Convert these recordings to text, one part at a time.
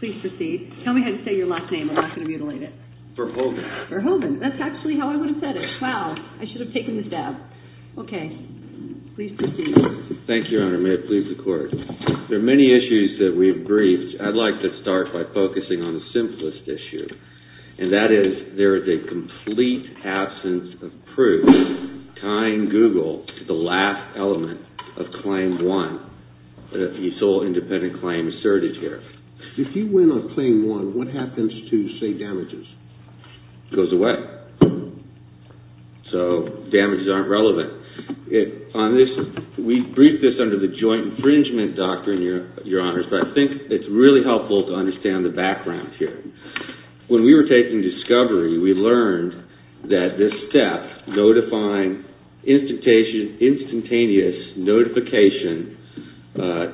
Please proceed. Tell me how to say your last name. I'm not going to mutilate it. Verhoeven. Verhoeven. That's actually how I would have said it. Wow. I should have taken the stab. Okay. Please proceed. Thank you, Your Honor. May it please the Court. There are many issues that we've briefed. I'd like to start by focusing on the simplest issue, and that is there is a complete absence of proof tying Google to the last element of Claim 1, the sole independent claim asserted here. If you win on Claim 1, what happens to, say, damages? It goes away. So damages aren't relevant. We've briefed this under the joint infringement doctrine, Your Honors, but I think it's really helpful to understand the background here. When we were taking discovery, we learned that this step, notifying instantaneous notification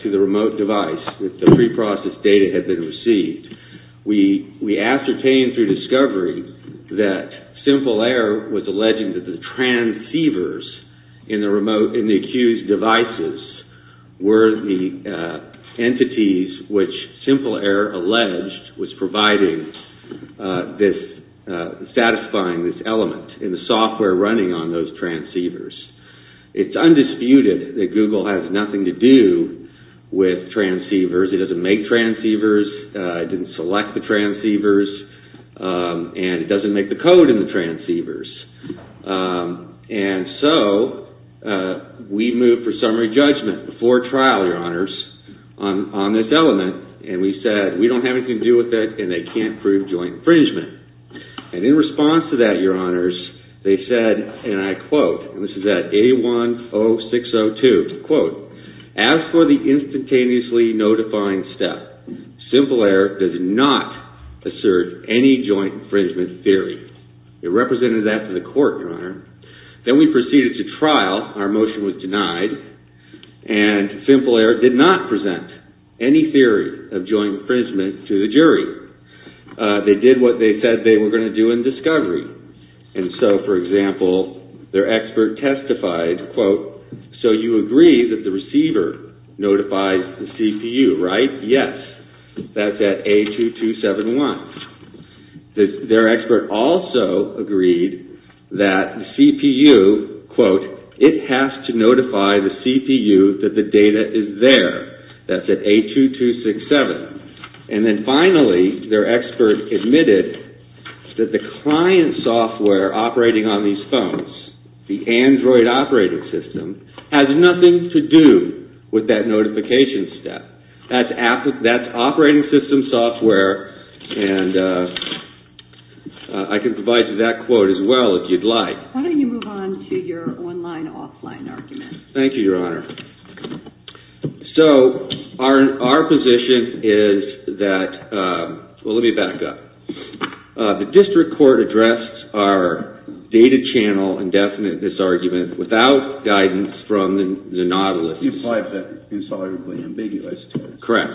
to the remote device that the preprocessed data had been received, we ascertained through discovery that SimpleAir was alleging that the transceivers in the accused devices were the entities which SimpleAir alleged was satisfying this element in the software running on those transceivers. It's undisputed that Google has nothing to do with transceivers. It doesn't make transceivers. It didn't select the transceivers. And it doesn't make the code in the transceivers. And so we moved for summary judgment before trial, Your Honors, on this element, and we said we don't have anything to do with it and they can't prove joint infringement. And in response to that, Your Honors, they said, and I quote, and this is at A10602, quote, as for the instantaneously notifying step, SimpleAir does not assert any joint infringement theory. It represented that to the court, Your Honor. Then we proceeded to trial. Our motion was denied. And SimpleAir did not present any theory of joint infringement to the jury. They did what they said they were going to do in discovery. And so, for example, their expert testified, quote, so you agree that the receiver notified the CPU, right? Yes. That's at A2271. Their expert also agreed that the CPU, quote, it has to notify the CPU that the data is there. That's at A2267. And then finally, their expert admitted that the client software operating on these phones, the Android operating system, has nothing to do with that notification step. That's operating system software. And I can provide you that quote as well if you'd like. Why don't you move on to your online-offline argument? Thank you, Your Honor. So our position is that, well, let me back up. The district court addressed our data channel indefinite disargument without guidance from the Nautilus. Correct.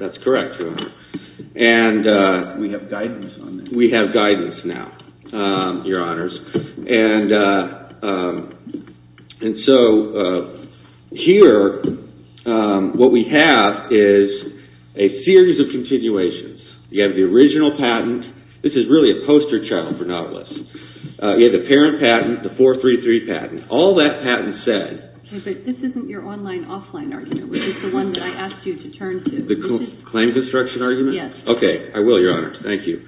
That's correct, Your Honor. And we have guidance now, Your Honors. And so here, what we have is a series of continuations. You have the original patent. This is really a poster child for Nautilus. You have the parent patent, the 433 patent. All that patent said- Okay, but this isn't your online-offline argument. This is the one that I asked you to turn to. The claim construction argument? Yes. Okay, I will, Your Honor. Thank you.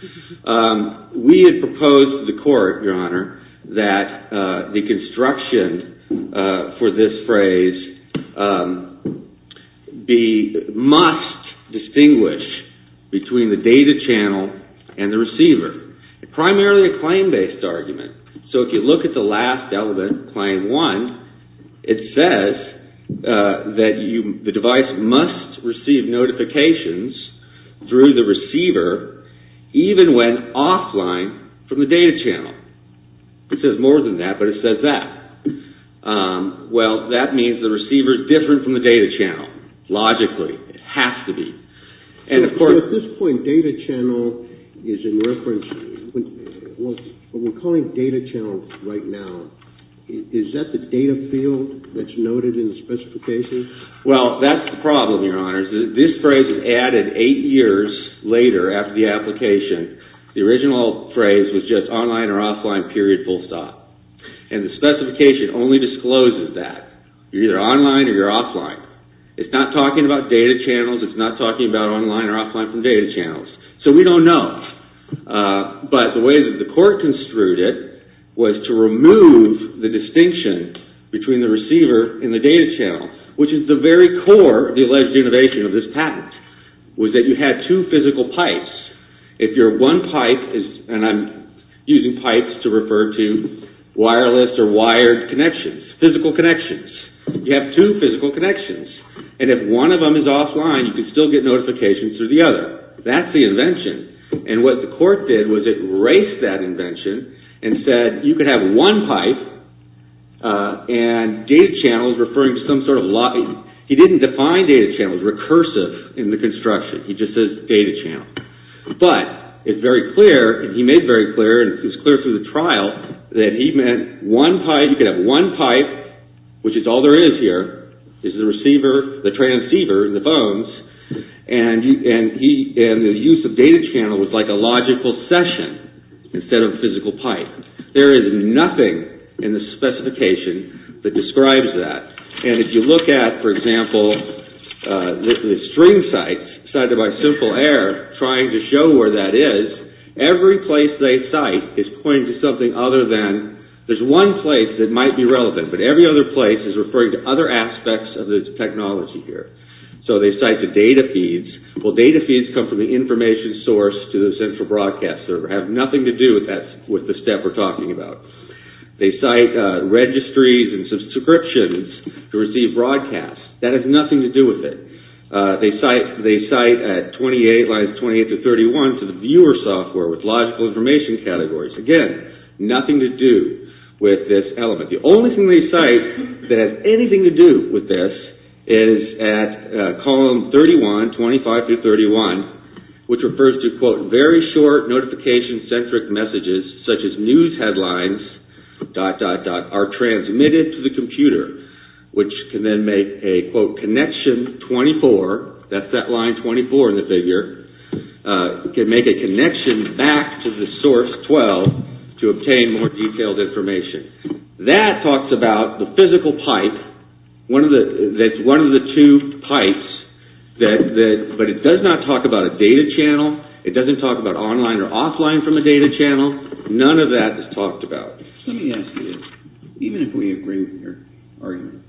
We had proposed to the court, Your Honor, that the construction for this phrase must distinguish between the data channel and the receiver. Primarily a claim-based argument. So if you look at the last element, claim one, it says that the device must receive notifications through the receiver even when offline from the data channel. It says more than that, but it says that. Well, that means the receiver is different from the data channel, logically. It has to be. At this point, data channel is in reference. When we're calling data channel right now, is that the data field that's noted in the specification? Well, that's the problem, Your Honor. This phrase was added eight years later after the application. The original phrase was just online or offline, period, full stop. And the specification only discloses that. You're either online or you're offline. It's not talking about data channels. It's not talking about online or offline from data channels. So we don't know. But the way that the court construed it was to remove the distinction between the receiver and the data channel, which is the very core of the alleged innovation of this patent, was that you had two physical pipes. If you're one pipe, and I'm using pipes to refer to wireless or wired connections, physical connections, you have two physical connections. And if one of them is offline, you can still get notifications through the other. That's the invention. And what the court did was it erased that invention and said you could have one pipe and data channels referring to some sort of lobby. He didn't define data channels recursive in the construction. He just says data channel. But it's very clear, and he made very clear, and it was clear through the trial, that he meant one pipe, you could have one pipe, which is all there is here, is the receiver, the transceiver, the bones, and the use of data channel was like a logical session instead of a physical pipe. There is nothing in the specification that describes that. And if you look at, for example, the string site cited by Simple Air trying to show where that is, every place they cite is pointing to something other than, there's one place that might be relevant, but every other place is referring to other aspects of the technology here. So they cite the data feeds. Well, data feeds come from the information source to the central broadcast server, have nothing to do with the step we're talking about. They cite registries and subscriptions to receive broadcasts. That has nothing to do with it. They cite at lines 28-31 to the viewer software with logical information categories. Again, nothing to do with this element. The only thing they cite that has anything to do with this is at column 31, 25-31, which refers to, quote, very short notification-centric messages, such as news headlines, dot, dot, dot, are transmitted to the computer, which can then make a, quote, connection 24, that's that line 24 in the figure, can make a connection back to the source 12 to obtain more detailed information. That talks about the physical pipe, that's one of the two pipes, but it does not talk about a data channel. It doesn't talk about online or offline from a data channel. None of that is talked about. Let me ask you, even if we agree with your argument,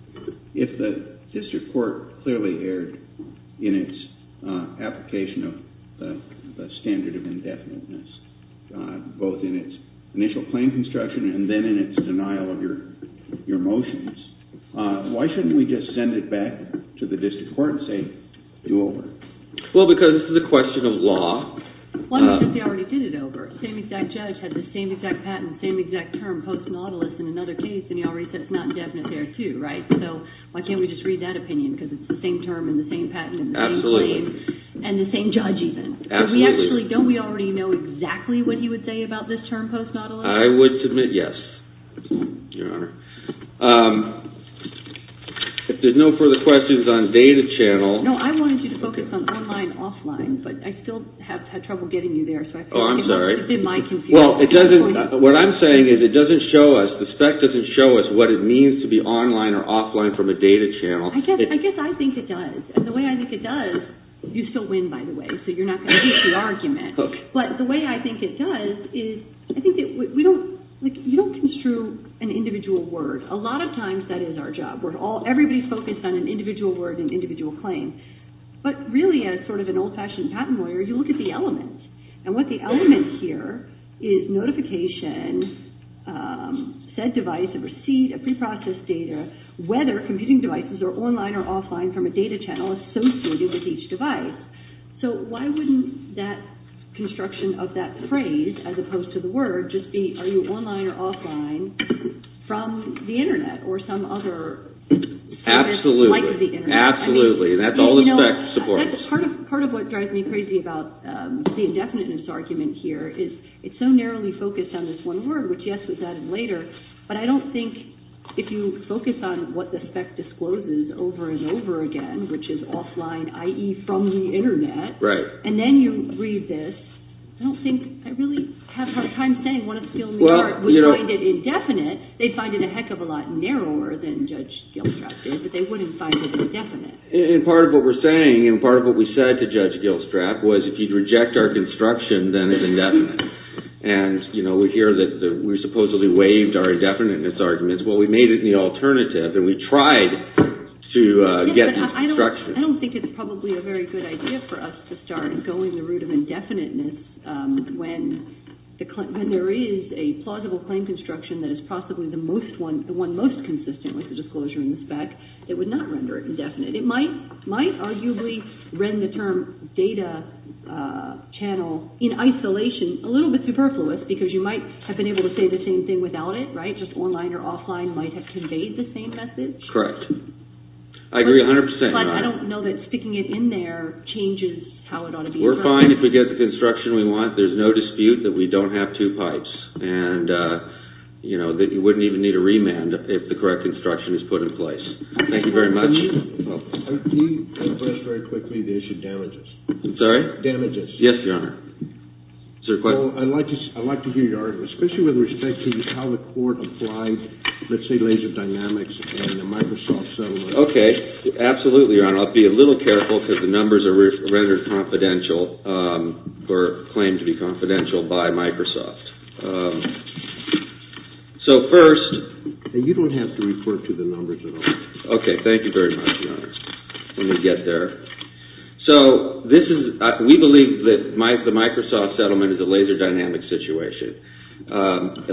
if the district court clearly erred in its application of the standard of indefiniteness, both in its initial claim construction and then in its denial of your motions, why shouldn't we just send it back to the district court and say, do over? One is that they already did it over. The same exact judge had the same exact patent, the same exact term, post-nautilus, in another case, and he already said it's not indefinite there, too, right? So why can't we just read that opinion, because it's the same term and the same patent and the same claim. Absolutely. And the same judge, even. Absolutely. Don't we already know exactly what he would say about this term, post-nautilus? I would submit yes, Your Honor. If there's no further questions on data channel. No, I wanted you to focus on online and offline, but I still have trouble getting you there. Oh, I'm sorry. It's been my confusion. Well, what I'm saying is it doesn't show us, the spec doesn't show us what it means to be online or offline from a data channel. I guess I think it does, and the way I think it does, you still win, by the way, so you're not going to lose the argument. But the way I think it does is, I think you don't construe an individual word. A lot of times that is our job. Everybody's focused on an individual word and individual claim. But really, as sort of an old-fashioned patent lawyer, you look at the element. And what the element here is notification, said device, a receipt, a preprocessed data, whether computing devices are online or offline from a data channel associated with each device. So why wouldn't that construction of that phrase, as opposed to the word, just be, are you online or offline from the Internet or some other service like the Internet? Absolutely. Absolutely. That's all the spec supports. Part of what drives me crazy about the indefiniteness argument here is it's so narrowly focused on this one word, which, yes, was added later. But I don't think, if you focus on what the spec discloses over and over again, which is offline, i.e., from the Internet, and then you read this, I don't think, I really have a hard time saying one of the skills in the art would find it indefinite. They'd find it a heck of a lot narrower than Judge Gilstrap did, but they wouldn't find it indefinite. And part of what we're saying and part of what we said to Judge Gilstrap was if you'd reject our construction, then it's indefinite. And we hear that we supposedly waived our indefiniteness arguments. Well, we made it an alternative, and we tried to get this construction. I don't think it's probably a very good idea for us to start going the route of indefiniteness when there is a plausible claim construction that is possibly the one most consistent with the disclosure in the spec that would not render it indefinite. It might arguably render the term data channel in isolation a little bit superfluous because you might have been able to say the same thing without it, right? Just online or offline might have conveyed the same message. Correct. I agree 100 percent. But I don't know that sticking it in there changes how it ought to be described. We're fine if we get the construction we want. There's no dispute that we don't have two pipes and that you wouldn't even need a remand if the correct instruction is put in place. Thank you very much. Can you address very quickly the issue of damages? I'm sorry? Damages. Yes, Your Honor. Is there a question? I'd like to hear your argument, especially with respect to how the court applied, let's say, laser dynamics and the Microsoft settlement. Okay. Absolutely, Your Honor. I'll be a little careful because the numbers are rendered confidential or claimed to be confidential by Microsoft. And you don't have to refer to the numbers at all. Okay. Thank you very much, Your Honor. Let me get there. So we believe that the Microsoft settlement is a laser dynamics situation.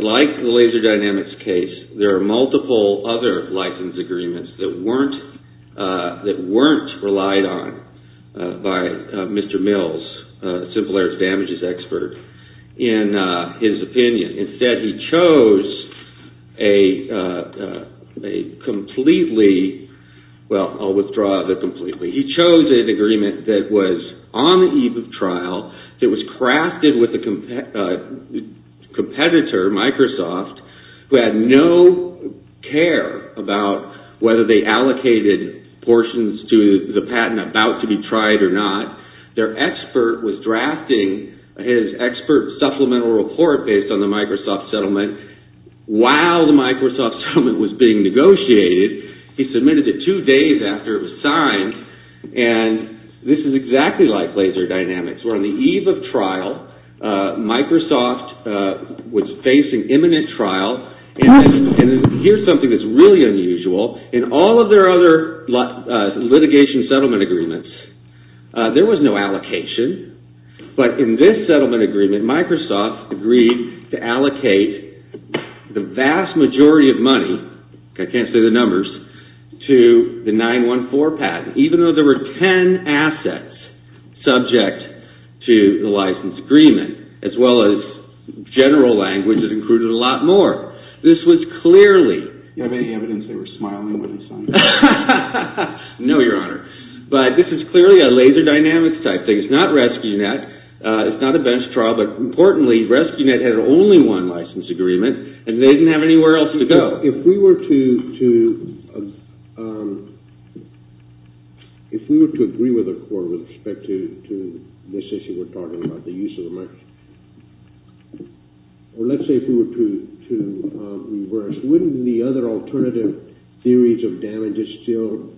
Like the laser dynamics case, there are multiple other license agreements that weren't relied on by Mr. Mills, Simple Air's damages expert. In his opinion. Instead, he chose a completely – well, I'll withdraw the completely. He chose an agreement that was on the eve of trial, that was crafted with a competitor, Microsoft, who had no care about whether they allocated portions to the patent about to be tried or not. Their expert was drafting his expert supplemental report based on the Microsoft settlement while the Microsoft settlement was being negotiated. He submitted it two days after it was signed. And this is exactly like laser dynamics. We're on the eve of trial. Microsoft was facing imminent trial. And here's something that's really unusual. In all of their other litigation settlement agreements, there was no allocation. But in this settlement agreement, Microsoft agreed to allocate the vast majority of money – I can't say the numbers – to the 914 patent, even though there were 10 assets subject to the license agreement, as well as general language that included a lot more. This was clearly – Do you have any evidence they were smiling when it was signed? No, Your Honor. But this is clearly a laser dynamics type thing. It's not RescueNet. It's not a bench trial. But importantly, RescueNet had only one license agreement, and they didn't have anywhere else to go. If we were to agree with the court with respect to this issue we're talking about, the use of the money, or let's say if we were to reverse, wouldn't the other alternative theories of damages still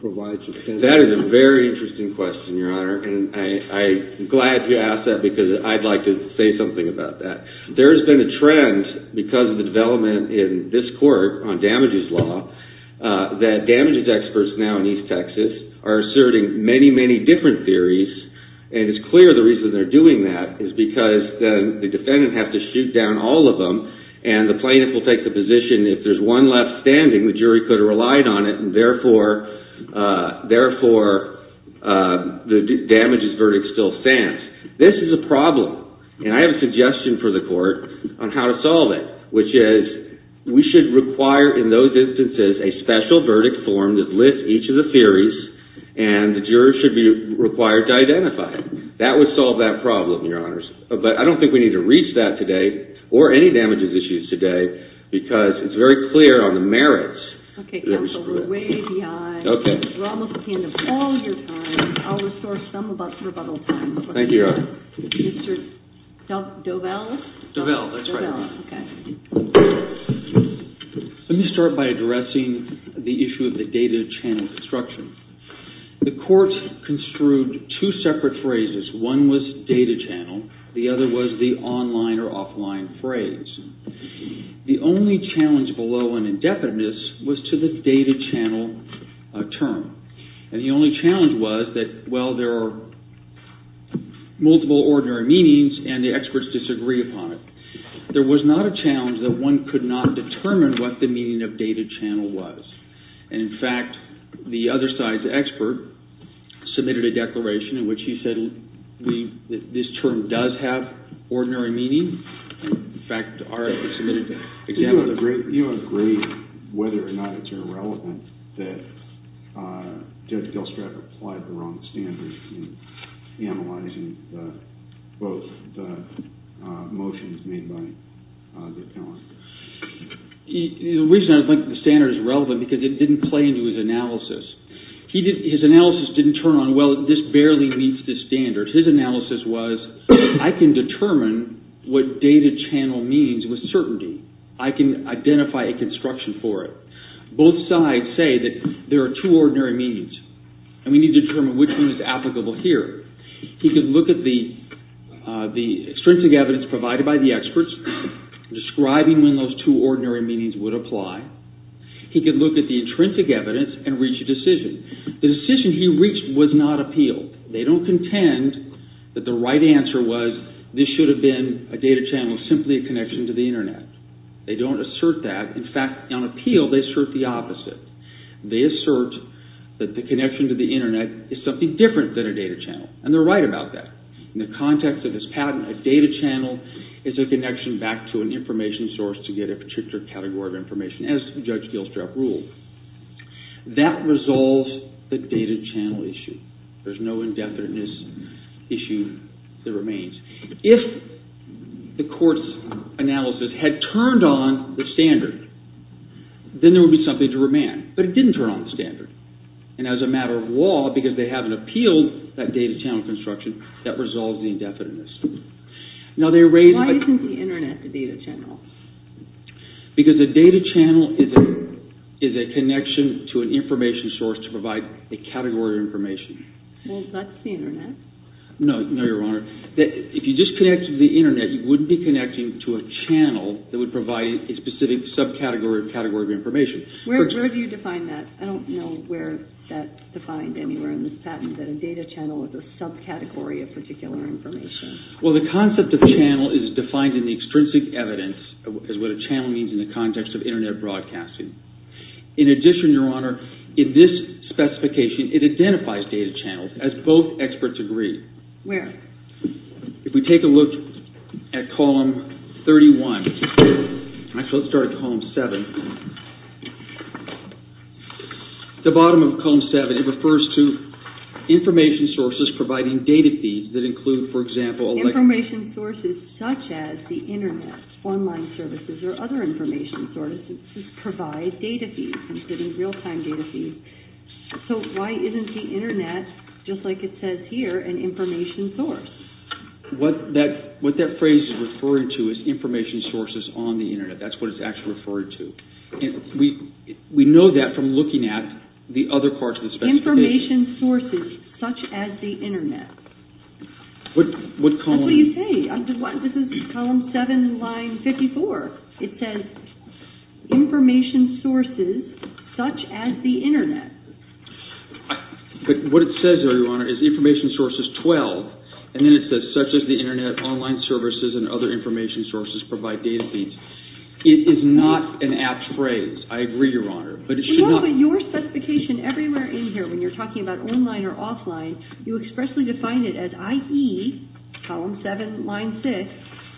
provide some sense? That is a very interesting question, Your Honor, and I'm glad you asked that because I'd like to say something about that. There's been a trend because of the development in this court on damages law that damages experts now in East Texas are asserting many, many different theories, and it's clear the reason they're doing that is because then the defendant has to shoot down all of them, and the plaintiff will take the position if there's one left standing, the jury could have relied on it, and therefore the damages verdict still stands. This is a problem, and I have a suggestion for the court on how to solve it, which is we should require in those instances a special verdict form that lists each of the theories, and the jurors should be required to identify it. That would solve that problem, Your Honors. But I don't think we need to reach that today or any damages issues today because it's very clear on the merits. Okay, counsel, we're way behind. Okay. We're almost at the end of all your time. I'll restore some of us rebuttal time. Thank you, Your Honor. Mr. Dovell? Dovell, that's right. Dovell, okay. Let me start by addressing the issue of the data channel construction. The court construed two separate phrases. One was data channel. The other was the online or offline phrase. The only challenge below an indebtedness was to the data channel term, and the only challenge was that, well, there are multiple ordinary meanings and the experts disagree upon it. There was not a challenge that one could not determine what the meaning of data channel was, and, in fact, the other side's expert submitted a declaration in which he said this term does have ordinary meaning. You agree whether or not it's irrelevant that Judge Delstrat applied the wrong standards in analyzing both the motions made by the appellant? The reason I think the standard is relevant is because it didn't play into his analysis. His analysis didn't turn on, well, this barely meets the standard. His analysis was, I can determine what data channel means with certainty. I can identify a construction for it. Both sides say that there are two ordinary meanings, and we need to determine which one is applicable here. He could look at the extrinsic evidence provided by the experts, describing when those two ordinary meanings would apply. He could look at the intrinsic evidence and reach a decision. The decision he reached was not appealed. They don't contend that the right answer was this should have been a data channel, simply a connection to the Internet. They don't assert that. In fact, on appeal, they assert the opposite. They assert that the connection to the Internet is something different than a data channel, and they're right about that. In the context of this patent, a data channel is a connection back to an information source to get a particular category of information, as Judge Delstrat ruled. That resolves the data channel issue. There's no indefiniteness issue that remains. If the court's analysis had turned on the standard, then there would be something to remand. But it didn't turn on the standard. And as a matter of law, because they haven't appealed that data channel construction, that resolves the indefiniteness. Now, they raised… Why isn't the Internet the data channel? Because a data channel is a connection to an information source to provide a category of information. Well, that's the Internet. No, Your Honor. If you just connected to the Internet, you wouldn't be connecting to a channel that would provide a specific subcategory of information. Where do you define that? I don't know where that's defined anywhere in this patent, that a data channel is a subcategory of particular information. Well, the concept of channel is defined in the extrinsic evidence as what a channel means in the context of Internet broadcasting. In addition, Your Honor, in this specification, it identifies data channels, as both experts agree. Where? If we take a look at Column 31… Actually, let's start at Column 7. At the bottom of Column 7, it refers to information sources providing data feeds that include, for example… Information sources such as the Internet, online services, or other information sources provide data feeds, including real-time data feeds. So, why isn't the Internet, just like it says here, an information source? What that phrase is referring to is information sources on the Internet. That's what it's actually referring to. We know that from looking at the other parts of the specification. Information sources such as the Internet. That's what you say. This is Column 7, Line 54. It says, information sources such as the Internet. But what it says there, Your Honor, is information sources 12. And then it says, such as the Internet, online services, and other information sources provide data feeds. It is not an apt phrase. I agree, Your Honor. But it should not… No, but your specification everywhere in here, when you're talking about online or offline, you expressly define it as IE, Column 7, Line 6,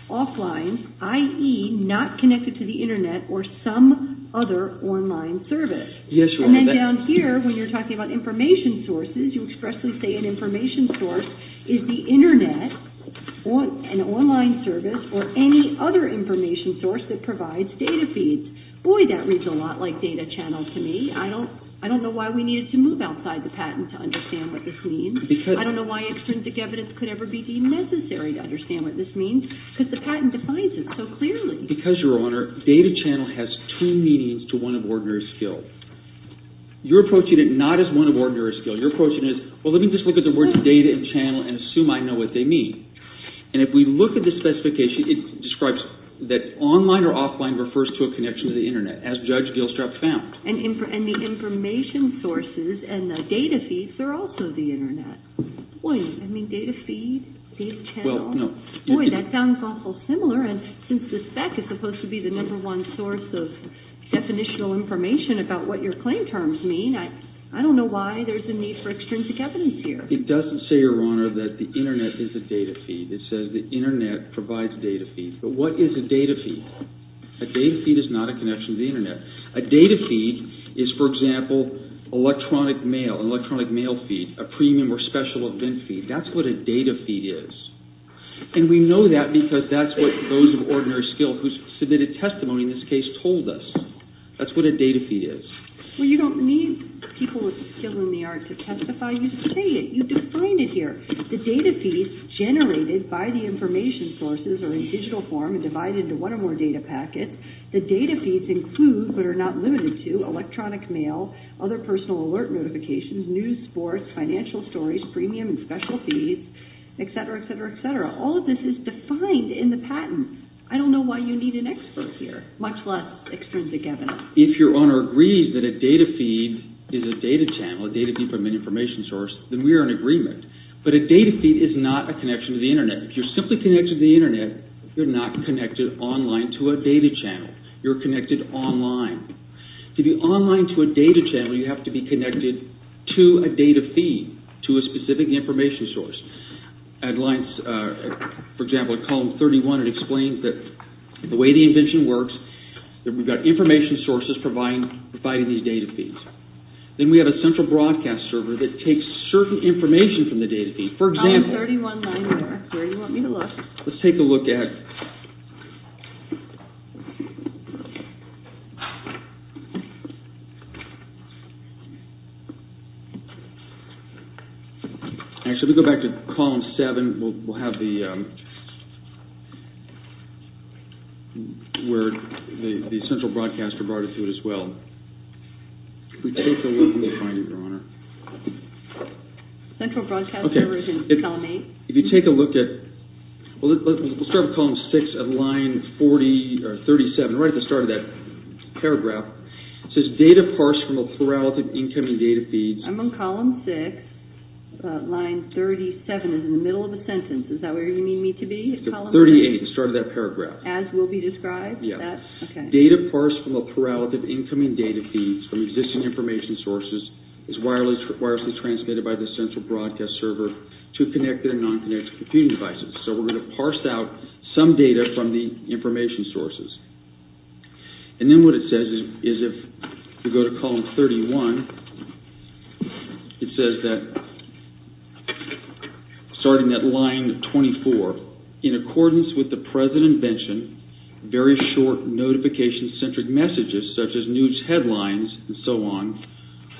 offline, IE, not connected to the Internet, or some other online service. Yes, Your Honor. And then down here, when you're talking about information sources, you expressly say an information source is the Internet, an online service, or any other information source that provides data feeds. Boy, that reads a lot like data channel to me. I don't know why we needed to move outside the patent to understand what this means. I don't know why extrinsic evidence could ever be deemed necessary to understand what this means because the patent defines it so clearly. Because, Your Honor, data channel has two meanings to one of ordinary skill. You're approaching it not as one of ordinary skill. You're approaching it as, well, let me just look at the words data and channel and assume I know what they mean. And if we look at the specification, it describes that online or offline refers to a connection to the Internet, as Judge Gilstrap found. And the information sources and the data feeds are also the Internet. Boy, you mean data feed, data channel? Well, no. Boy, that sounds awful similar. And since the spec is supposed to be the number one source of definitional information about what your claim terms mean, I don't know why there's a need for extrinsic evidence here. It doesn't say, Your Honor, that the Internet is a data feed. It says the Internet provides data feeds. But what is a data feed? A data feed is not a connection to the Internet. A data feed is, for example, electronic mail, an electronic mail feed, a premium or special event feed. That's what a data feed is. And we know that because that's what those of ordinary skill who submitted testimony in this case told us. That's what a data feed is. Well, you don't need people with skill in the art to testify. You say it. You define it here. The data feeds generated by the information sources are in digital form and divided into one or more data packets. The data feeds include, but are not limited to, electronic mail, other personal alert notifications, news, sports, financial stories, premium and special feeds, etc., etc., etc. All of this is defined in the patent. I don't know why you need an expert here, much less extrinsic evidence. If Your Honor agrees that a data feed is a data channel, a data feed from an information source, then we are in agreement. But a data feed is not a connection to the Internet. If you're simply connected to the Internet, you're not connected online to a data channel. You're connected online. To be online to a data channel, you have to be connected to a data feed, to a specific information source. For example, in column 31, it explains the way the invention works. We've got information sources providing these data feeds. Then we have a central broadcast server that takes certain information from the data feed. For example, let's take a look at... Actually, let's go back to column 7, where the central broadcaster brought us to it as well. If we take a look, we'll find it, Your Honor. Central broadcaster version, column 8. If you take a look at... Let's start with column 6 of line 37, right at the start of that paragraph. It says, data parsed from a parallel to incoming data feeds. I'm on column 6, line 37 is in the middle of the sentence. Is that where you need me to be? 38, the start of that paragraph. As will be described? Yes. Data parsed from a parallel to incoming data feeds from existing information sources is wirelessly transmitted by the central broadcast server to connected and non-connected computing devices. We're going to parse out some data from the information sources. Then what it says is, if we go to column 31, it says that, starting at line 24, in accordance with the present invention, very short notification-centric messages, such as news headlines and so on,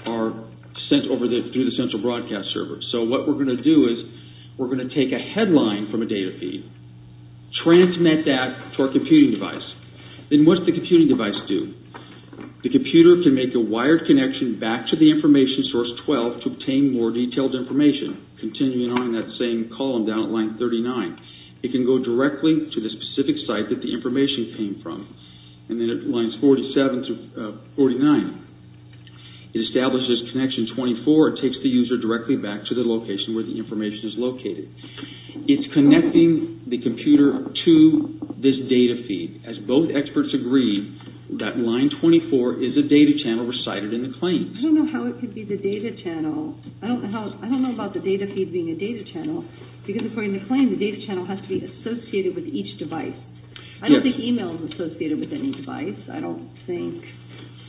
are sent through the central broadcast server. What we're going to do is, we're going to take a headline from a data feed, transmit that to our computing device. Then what does the computing device do? The computer can make a wired connection back to the information source 12 to obtain more detailed information, continuing on in that same column down at line 39. It can go directly to the specific site that the information came from. Then at lines 47 to 49, it establishes connection 24. It takes the user directly back to the location where the information is located. It's connecting the computer to this data feed. As both experts agree, that line 24 is a data channel recited in the claims. I don't know how it could be the data channel. I don't know about the data feed being a data channel, because according to the claim, the data channel has to be associated with each device. I don't think email is associated with any device. I don't think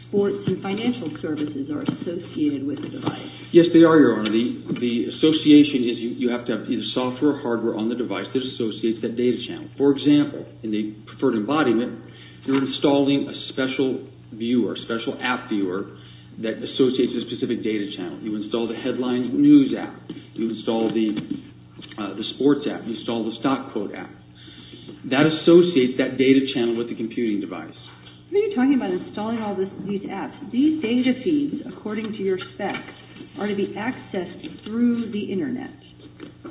sports and financial services are associated with the device. Yes, they are, Your Honor. The association is you have to have either software or hardware on the device that associates that data channel. For example, in the preferred embodiment, you're installing a special viewer, a special app viewer, that associates a specific data channel. You install the headline news app. You install the sports app. You install the stock quote app. That associates that data channel with the computing device. What are you talking about installing all these apps? These data feeds, according to your specs, are to be accessed through the Internet.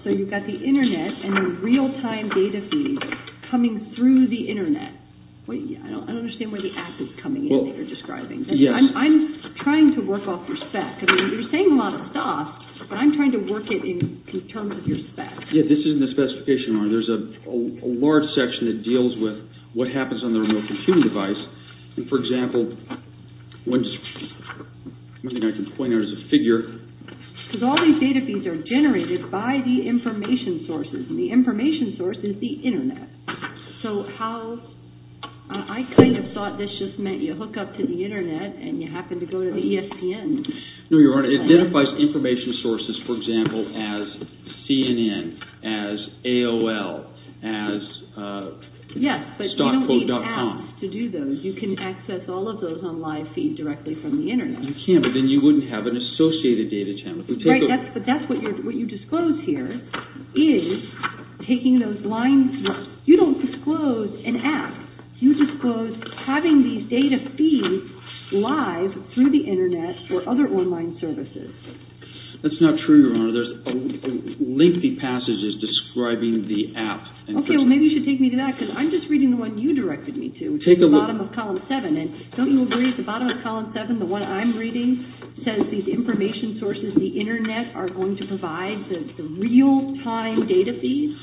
So you've got the Internet and the real-time data feeds coming through the Internet. I don't understand where the app is coming in that you're describing. I'm trying to work off your spec. You're saying a lot of stuff, but I'm trying to work it in terms of your spec. Yes, this isn't a specification, Your Honor. There's a large section that deals with what happens on the remote computing device. For example, one thing I can point out is a figure. Because all these data feeds are generated by the information sources, and the information source is the Internet. I kind of thought this just meant you hook up to the Internet and you happen to go to the ESPN. No, Your Honor. It identifies information sources, for example, as CNN, as AOL, as stockquote.com. Yes, but you don't need apps to do those. You can access all of those on live feed directly from the Internet. You can, but then you wouldn't have an associated data channel. Right, but that's what you disclose here is taking those lines. You don't disclose an app. You disclose having these data feeds live through the Internet for other online services. That's not true, Your Honor. There's lengthy passages describing the app. Okay, well, maybe you should take me to that, because I'm just reading the one you directed me to, which is the bottom of Column 7. Don't you agree at the bottom of Column 7, the one I'm reading, says these information sources, the Internet, are going to provide the real-time data feeds?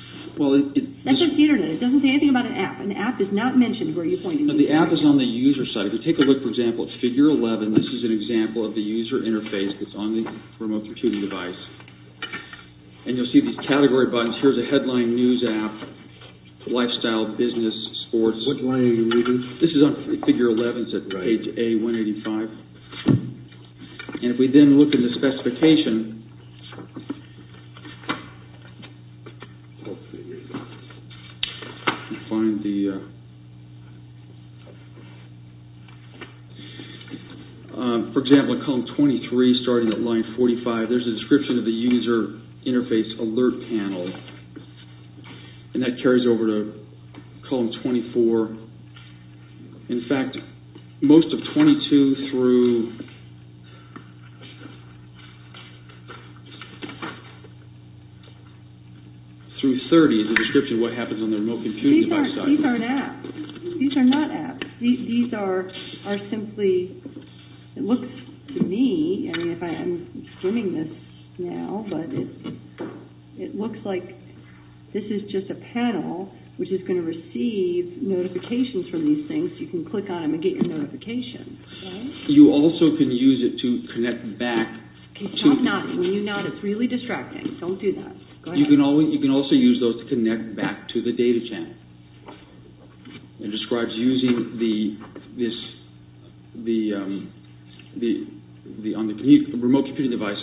That's just the Internet. It doesn't say anything about an app. An app is not mentioned. Who are you pointing to? The app is on the user site. If you take a look, for example, at Figure 11, this is an example of the user interface that's on the remote computing device. And you'll see these category buttons. Here's a headline, news app, lifestyle, business, sports. What line are you reading? This is on Figure 11. It's at page A185. And if we then look at the specification, for example, at Column 23, starting at line 45, there's a description of the user interface alert panel. And that carries over to Column 24. In fact, most of 22 through 30 is a description of what happens on the remote computing device. These aren't apps. These are not apps. These are simply, it looks to me, and I'm swimming this now, but it looks like this is just a panel which is going to receive notifications from these things. You can click on them and get your notifications. You also can use it to connect back. Stop nodding. When you nod, it's really distracting. Don't do that. Go ahead. You can also use those to connect back to the data channel. It describes using this on the remote computing device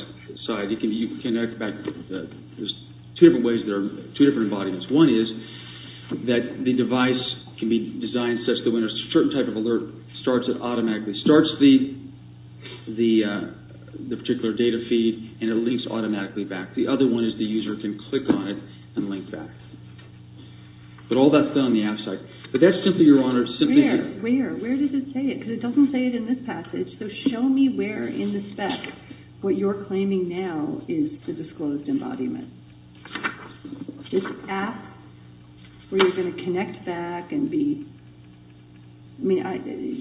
side. You can connect back. There's two different ways. There are two different embodiments. One is that the device can be designed such that when a certain type of alert starts, it automatically starts the particular data feed and it links automatically back. The other one is the user can click on it and link back. But all that's done on the app side. But that's simply, Your Honor, simply here. Where? Where? Where does it say it? Because it doesn't say it in this passage. So show me where in the spec what you're claiming now is the disclosed embodiment. This app where you're going to connect back and be. I mean,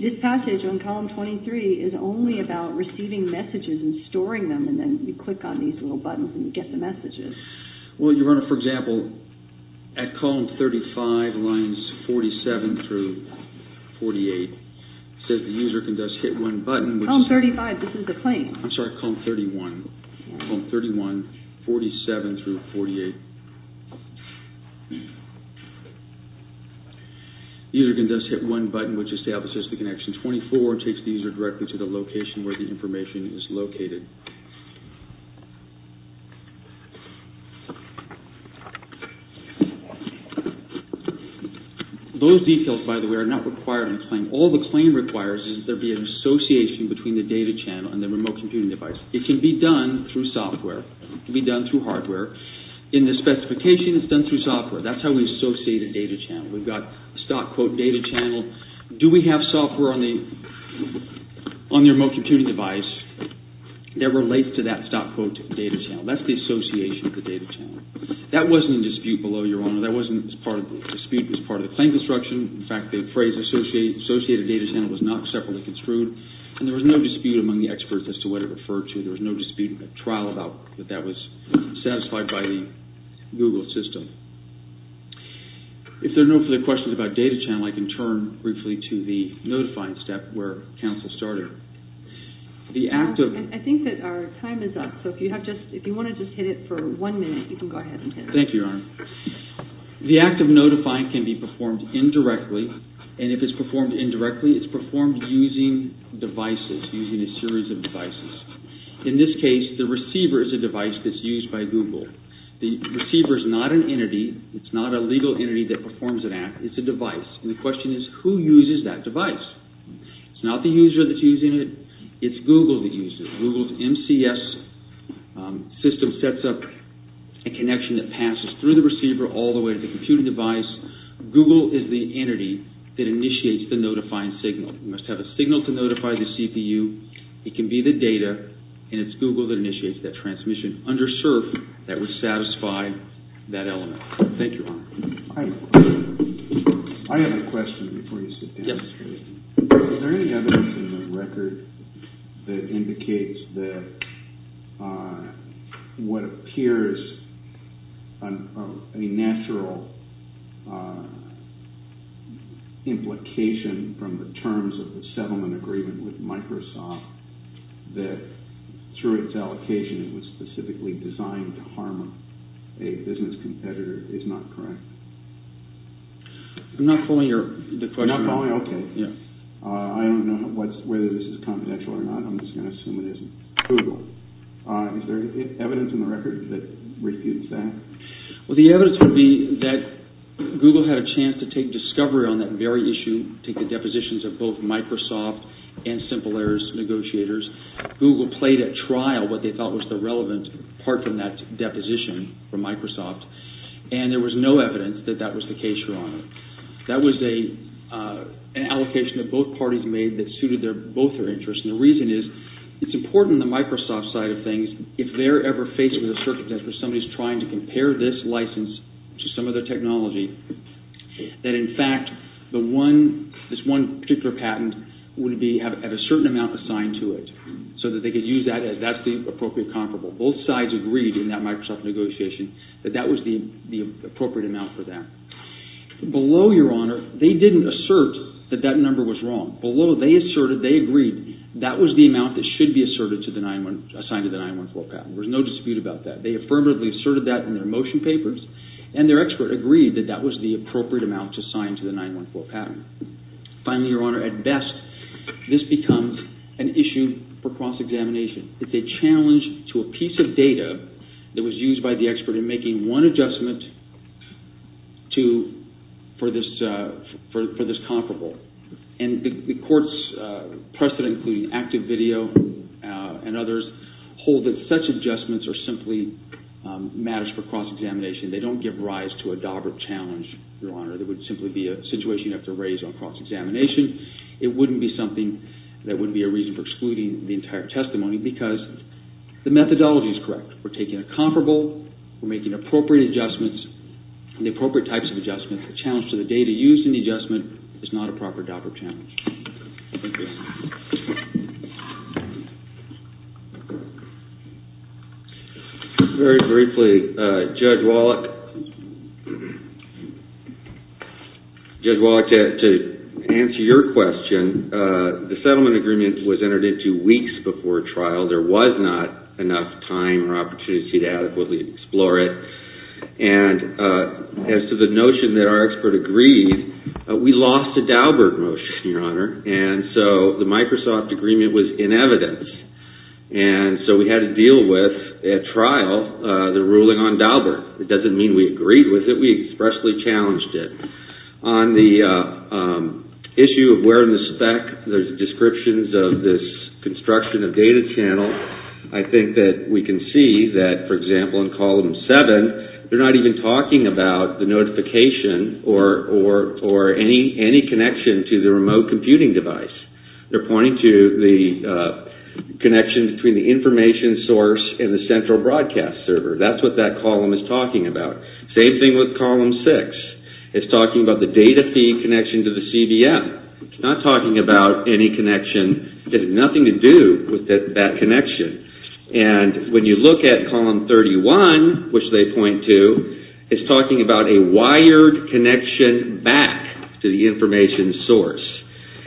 this passage on column 23 is only about receiving messages and storing them and then you click on these little buttons and you get the messages. Well, Your Honor, for example, at column 35, lines 47 through 48, it says the user can just hit one button. Column 35, this is the claim. I'm sorry, column 31. Column 31, 47 through 48. The user can just hit one button which establishes the connection. 24 takes the user directly to the location where the information is located. Those details, by the way, are not required in the claim. All the claim requires is there be an association between the data channel and the remote computing device. It can be done through software. It can be done through hardware. In the specification, it's done through software. That's how we associate a data channel. We've got a stock quote data channel. Do we have software on the remote computing device? That relates to that stock quote data channel. That's the association of the data channel. That wasn't in dispute below, Your Honor. That wasn't part of the dispute as part of the claim construction. In fact, the phrase associated data channel was not separately construed and there was no dispute among the experts as to what it referred to. There was no dispute at trial about that that was satisfied by the Google system. If there are no further questions about data channel, I can turn briefly to the notifying step where counsel started. I think that our time is up. If you want to just hit it for one minute, you can go ahead and hit it. Thank you, Your Honor. The act of notifying can be performed indirectly. If it's performed indirectly, it's performed using devices, using a series of devices. In this case, the receiver is a device that's used by Google. The receiver is not an entity. It's not a legal entity that performs an act. It's a device. The question is who uses that device. It's not the user that's using it. It's Google that uses it. Google's MCS system sets up a connection that passes through the receiver all the way to the computing device. Google is the entity that initiates the notifying signal. You must have a signal to notify the CPU. It can be the data, and it's Google that initiates that transmission under CERF that would satisfy that element. Thank you, Your Honor. I have a question before you sit down. Is there any evidence in the record that indicates that what appears a natural implication from the terms of the settlement agreement with Microsoft that through its allocation it was specifically designed to harm a business competitor is not correct? I'm not following the question. You're not following? Okay. I don't know whether this is confidential or not. I'm just going to assume it isn't. Google. Is there evidence in the record that refutes that? Well, the evidence would be that Google had a chance to take discovery on that very issue, take the depositions of both Microsoft and Simple Errors negotiators. Google played at trial what they thought was the relevant part from that deposition from Microsoft, and there was no evidence that that was the case, Your Honor. That was an allocation that both parties made that suited both their interests, and the reason is it's important on the Microsoft side of things if they're ever faced with a circumstance where somebody's trying to compare this license to some other technology, that in fact this one particular patent would have a certain amount assigned to it so that they could use that as that's the appropriate comparable. Both sides agreed in that Microsoft negotiation that that was the appropriate amount for that. Below, Your Honor, they didn't assert that that number was wrong. Below, they asserted, they agreed that was the amount that should be assigned to the 914 patent. There's no dispute about that. They affirmatively asserted that in their motion papers, and their expert agreed that that was the appropriate amount to sign to the 914 patent. Finally, Your Honor, at best, this becomes an issue for cross-examination. It's a challenge to a piece of data that was used by the expert in making one adjustment for this comparable, and the court's precedent, including active video and others, hold that such adjustments are simply matters for cross-examination. They don't give rise to a dogged challenge, Your Honor. It would simply be a situation you have to raise on cross-examination. It wouldn't be something that would be a reason for excluding the entire testimony because the methodology is correct. We're taking a comparable. We're making appropriate adjustments and the appropriate types of adjustments. The challenge to the data used in the adjustment is not a proper dogged challenge. Thank you. Very briefly, Judge Wallach, to answer your question, the settlement agreement was entered into weeks before trial. There was not enough time or opportunity to adequately explore it. And as to the notion that our expert agreed, we lost the Dauberg motion, Your Honor. And so the Microsoft agreement was in evidence. And so we had to deal with, at trial, the ruling on Dauberg. It doesn't mean we agreed with it. We expressly challenged it. On the issue of where in the spec there's descriptions of this construction of data channel, I think that we can see that, for example, in Column 7, they're not even talking about the notification or any connection to the remote computing device. They're pointing to the connection between the information source and the central broadcast server. That's what that column is talking about. Same thing with Column 6. It's talking about the data feed connection to the CBF. It's not talking about any connection. It has nothing to do with that connection. And when you look at Column 31, which they point to, it's talking about a wired connection back to the information source.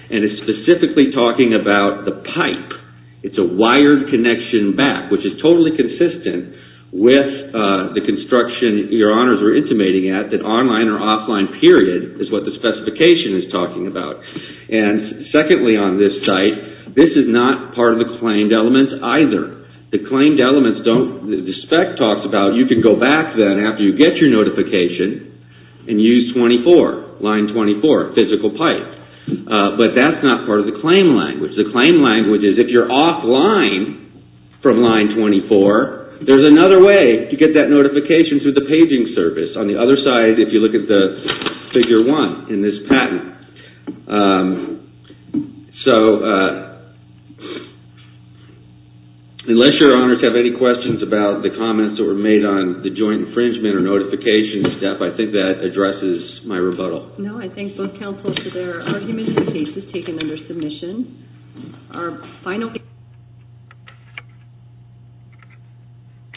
And it's specifically talking about the pipe. It's a wired connection back, which is totally consistent with the construction, Your Honors, we're intimating at, that online or offline period is what the specification is talking about. And secondly on this site, this is not part of the claimed elements either. The claimed elements don't, the spec talks about you can go back then after you get your notification and use 24, line 24, physical pipe. But that's not part of the claim language. The claim language is if you're offline from line 24, there's another way to get that notification through the paging service. On the other side, if you look at the Figure 1 in this patent. So, unless Your Honors have any questions about the comments that were made on the joint infringement or notification stuff, I think that addresses my rebuttal. No, I thank both counsels for their arguments and cases taken under submission. Our final...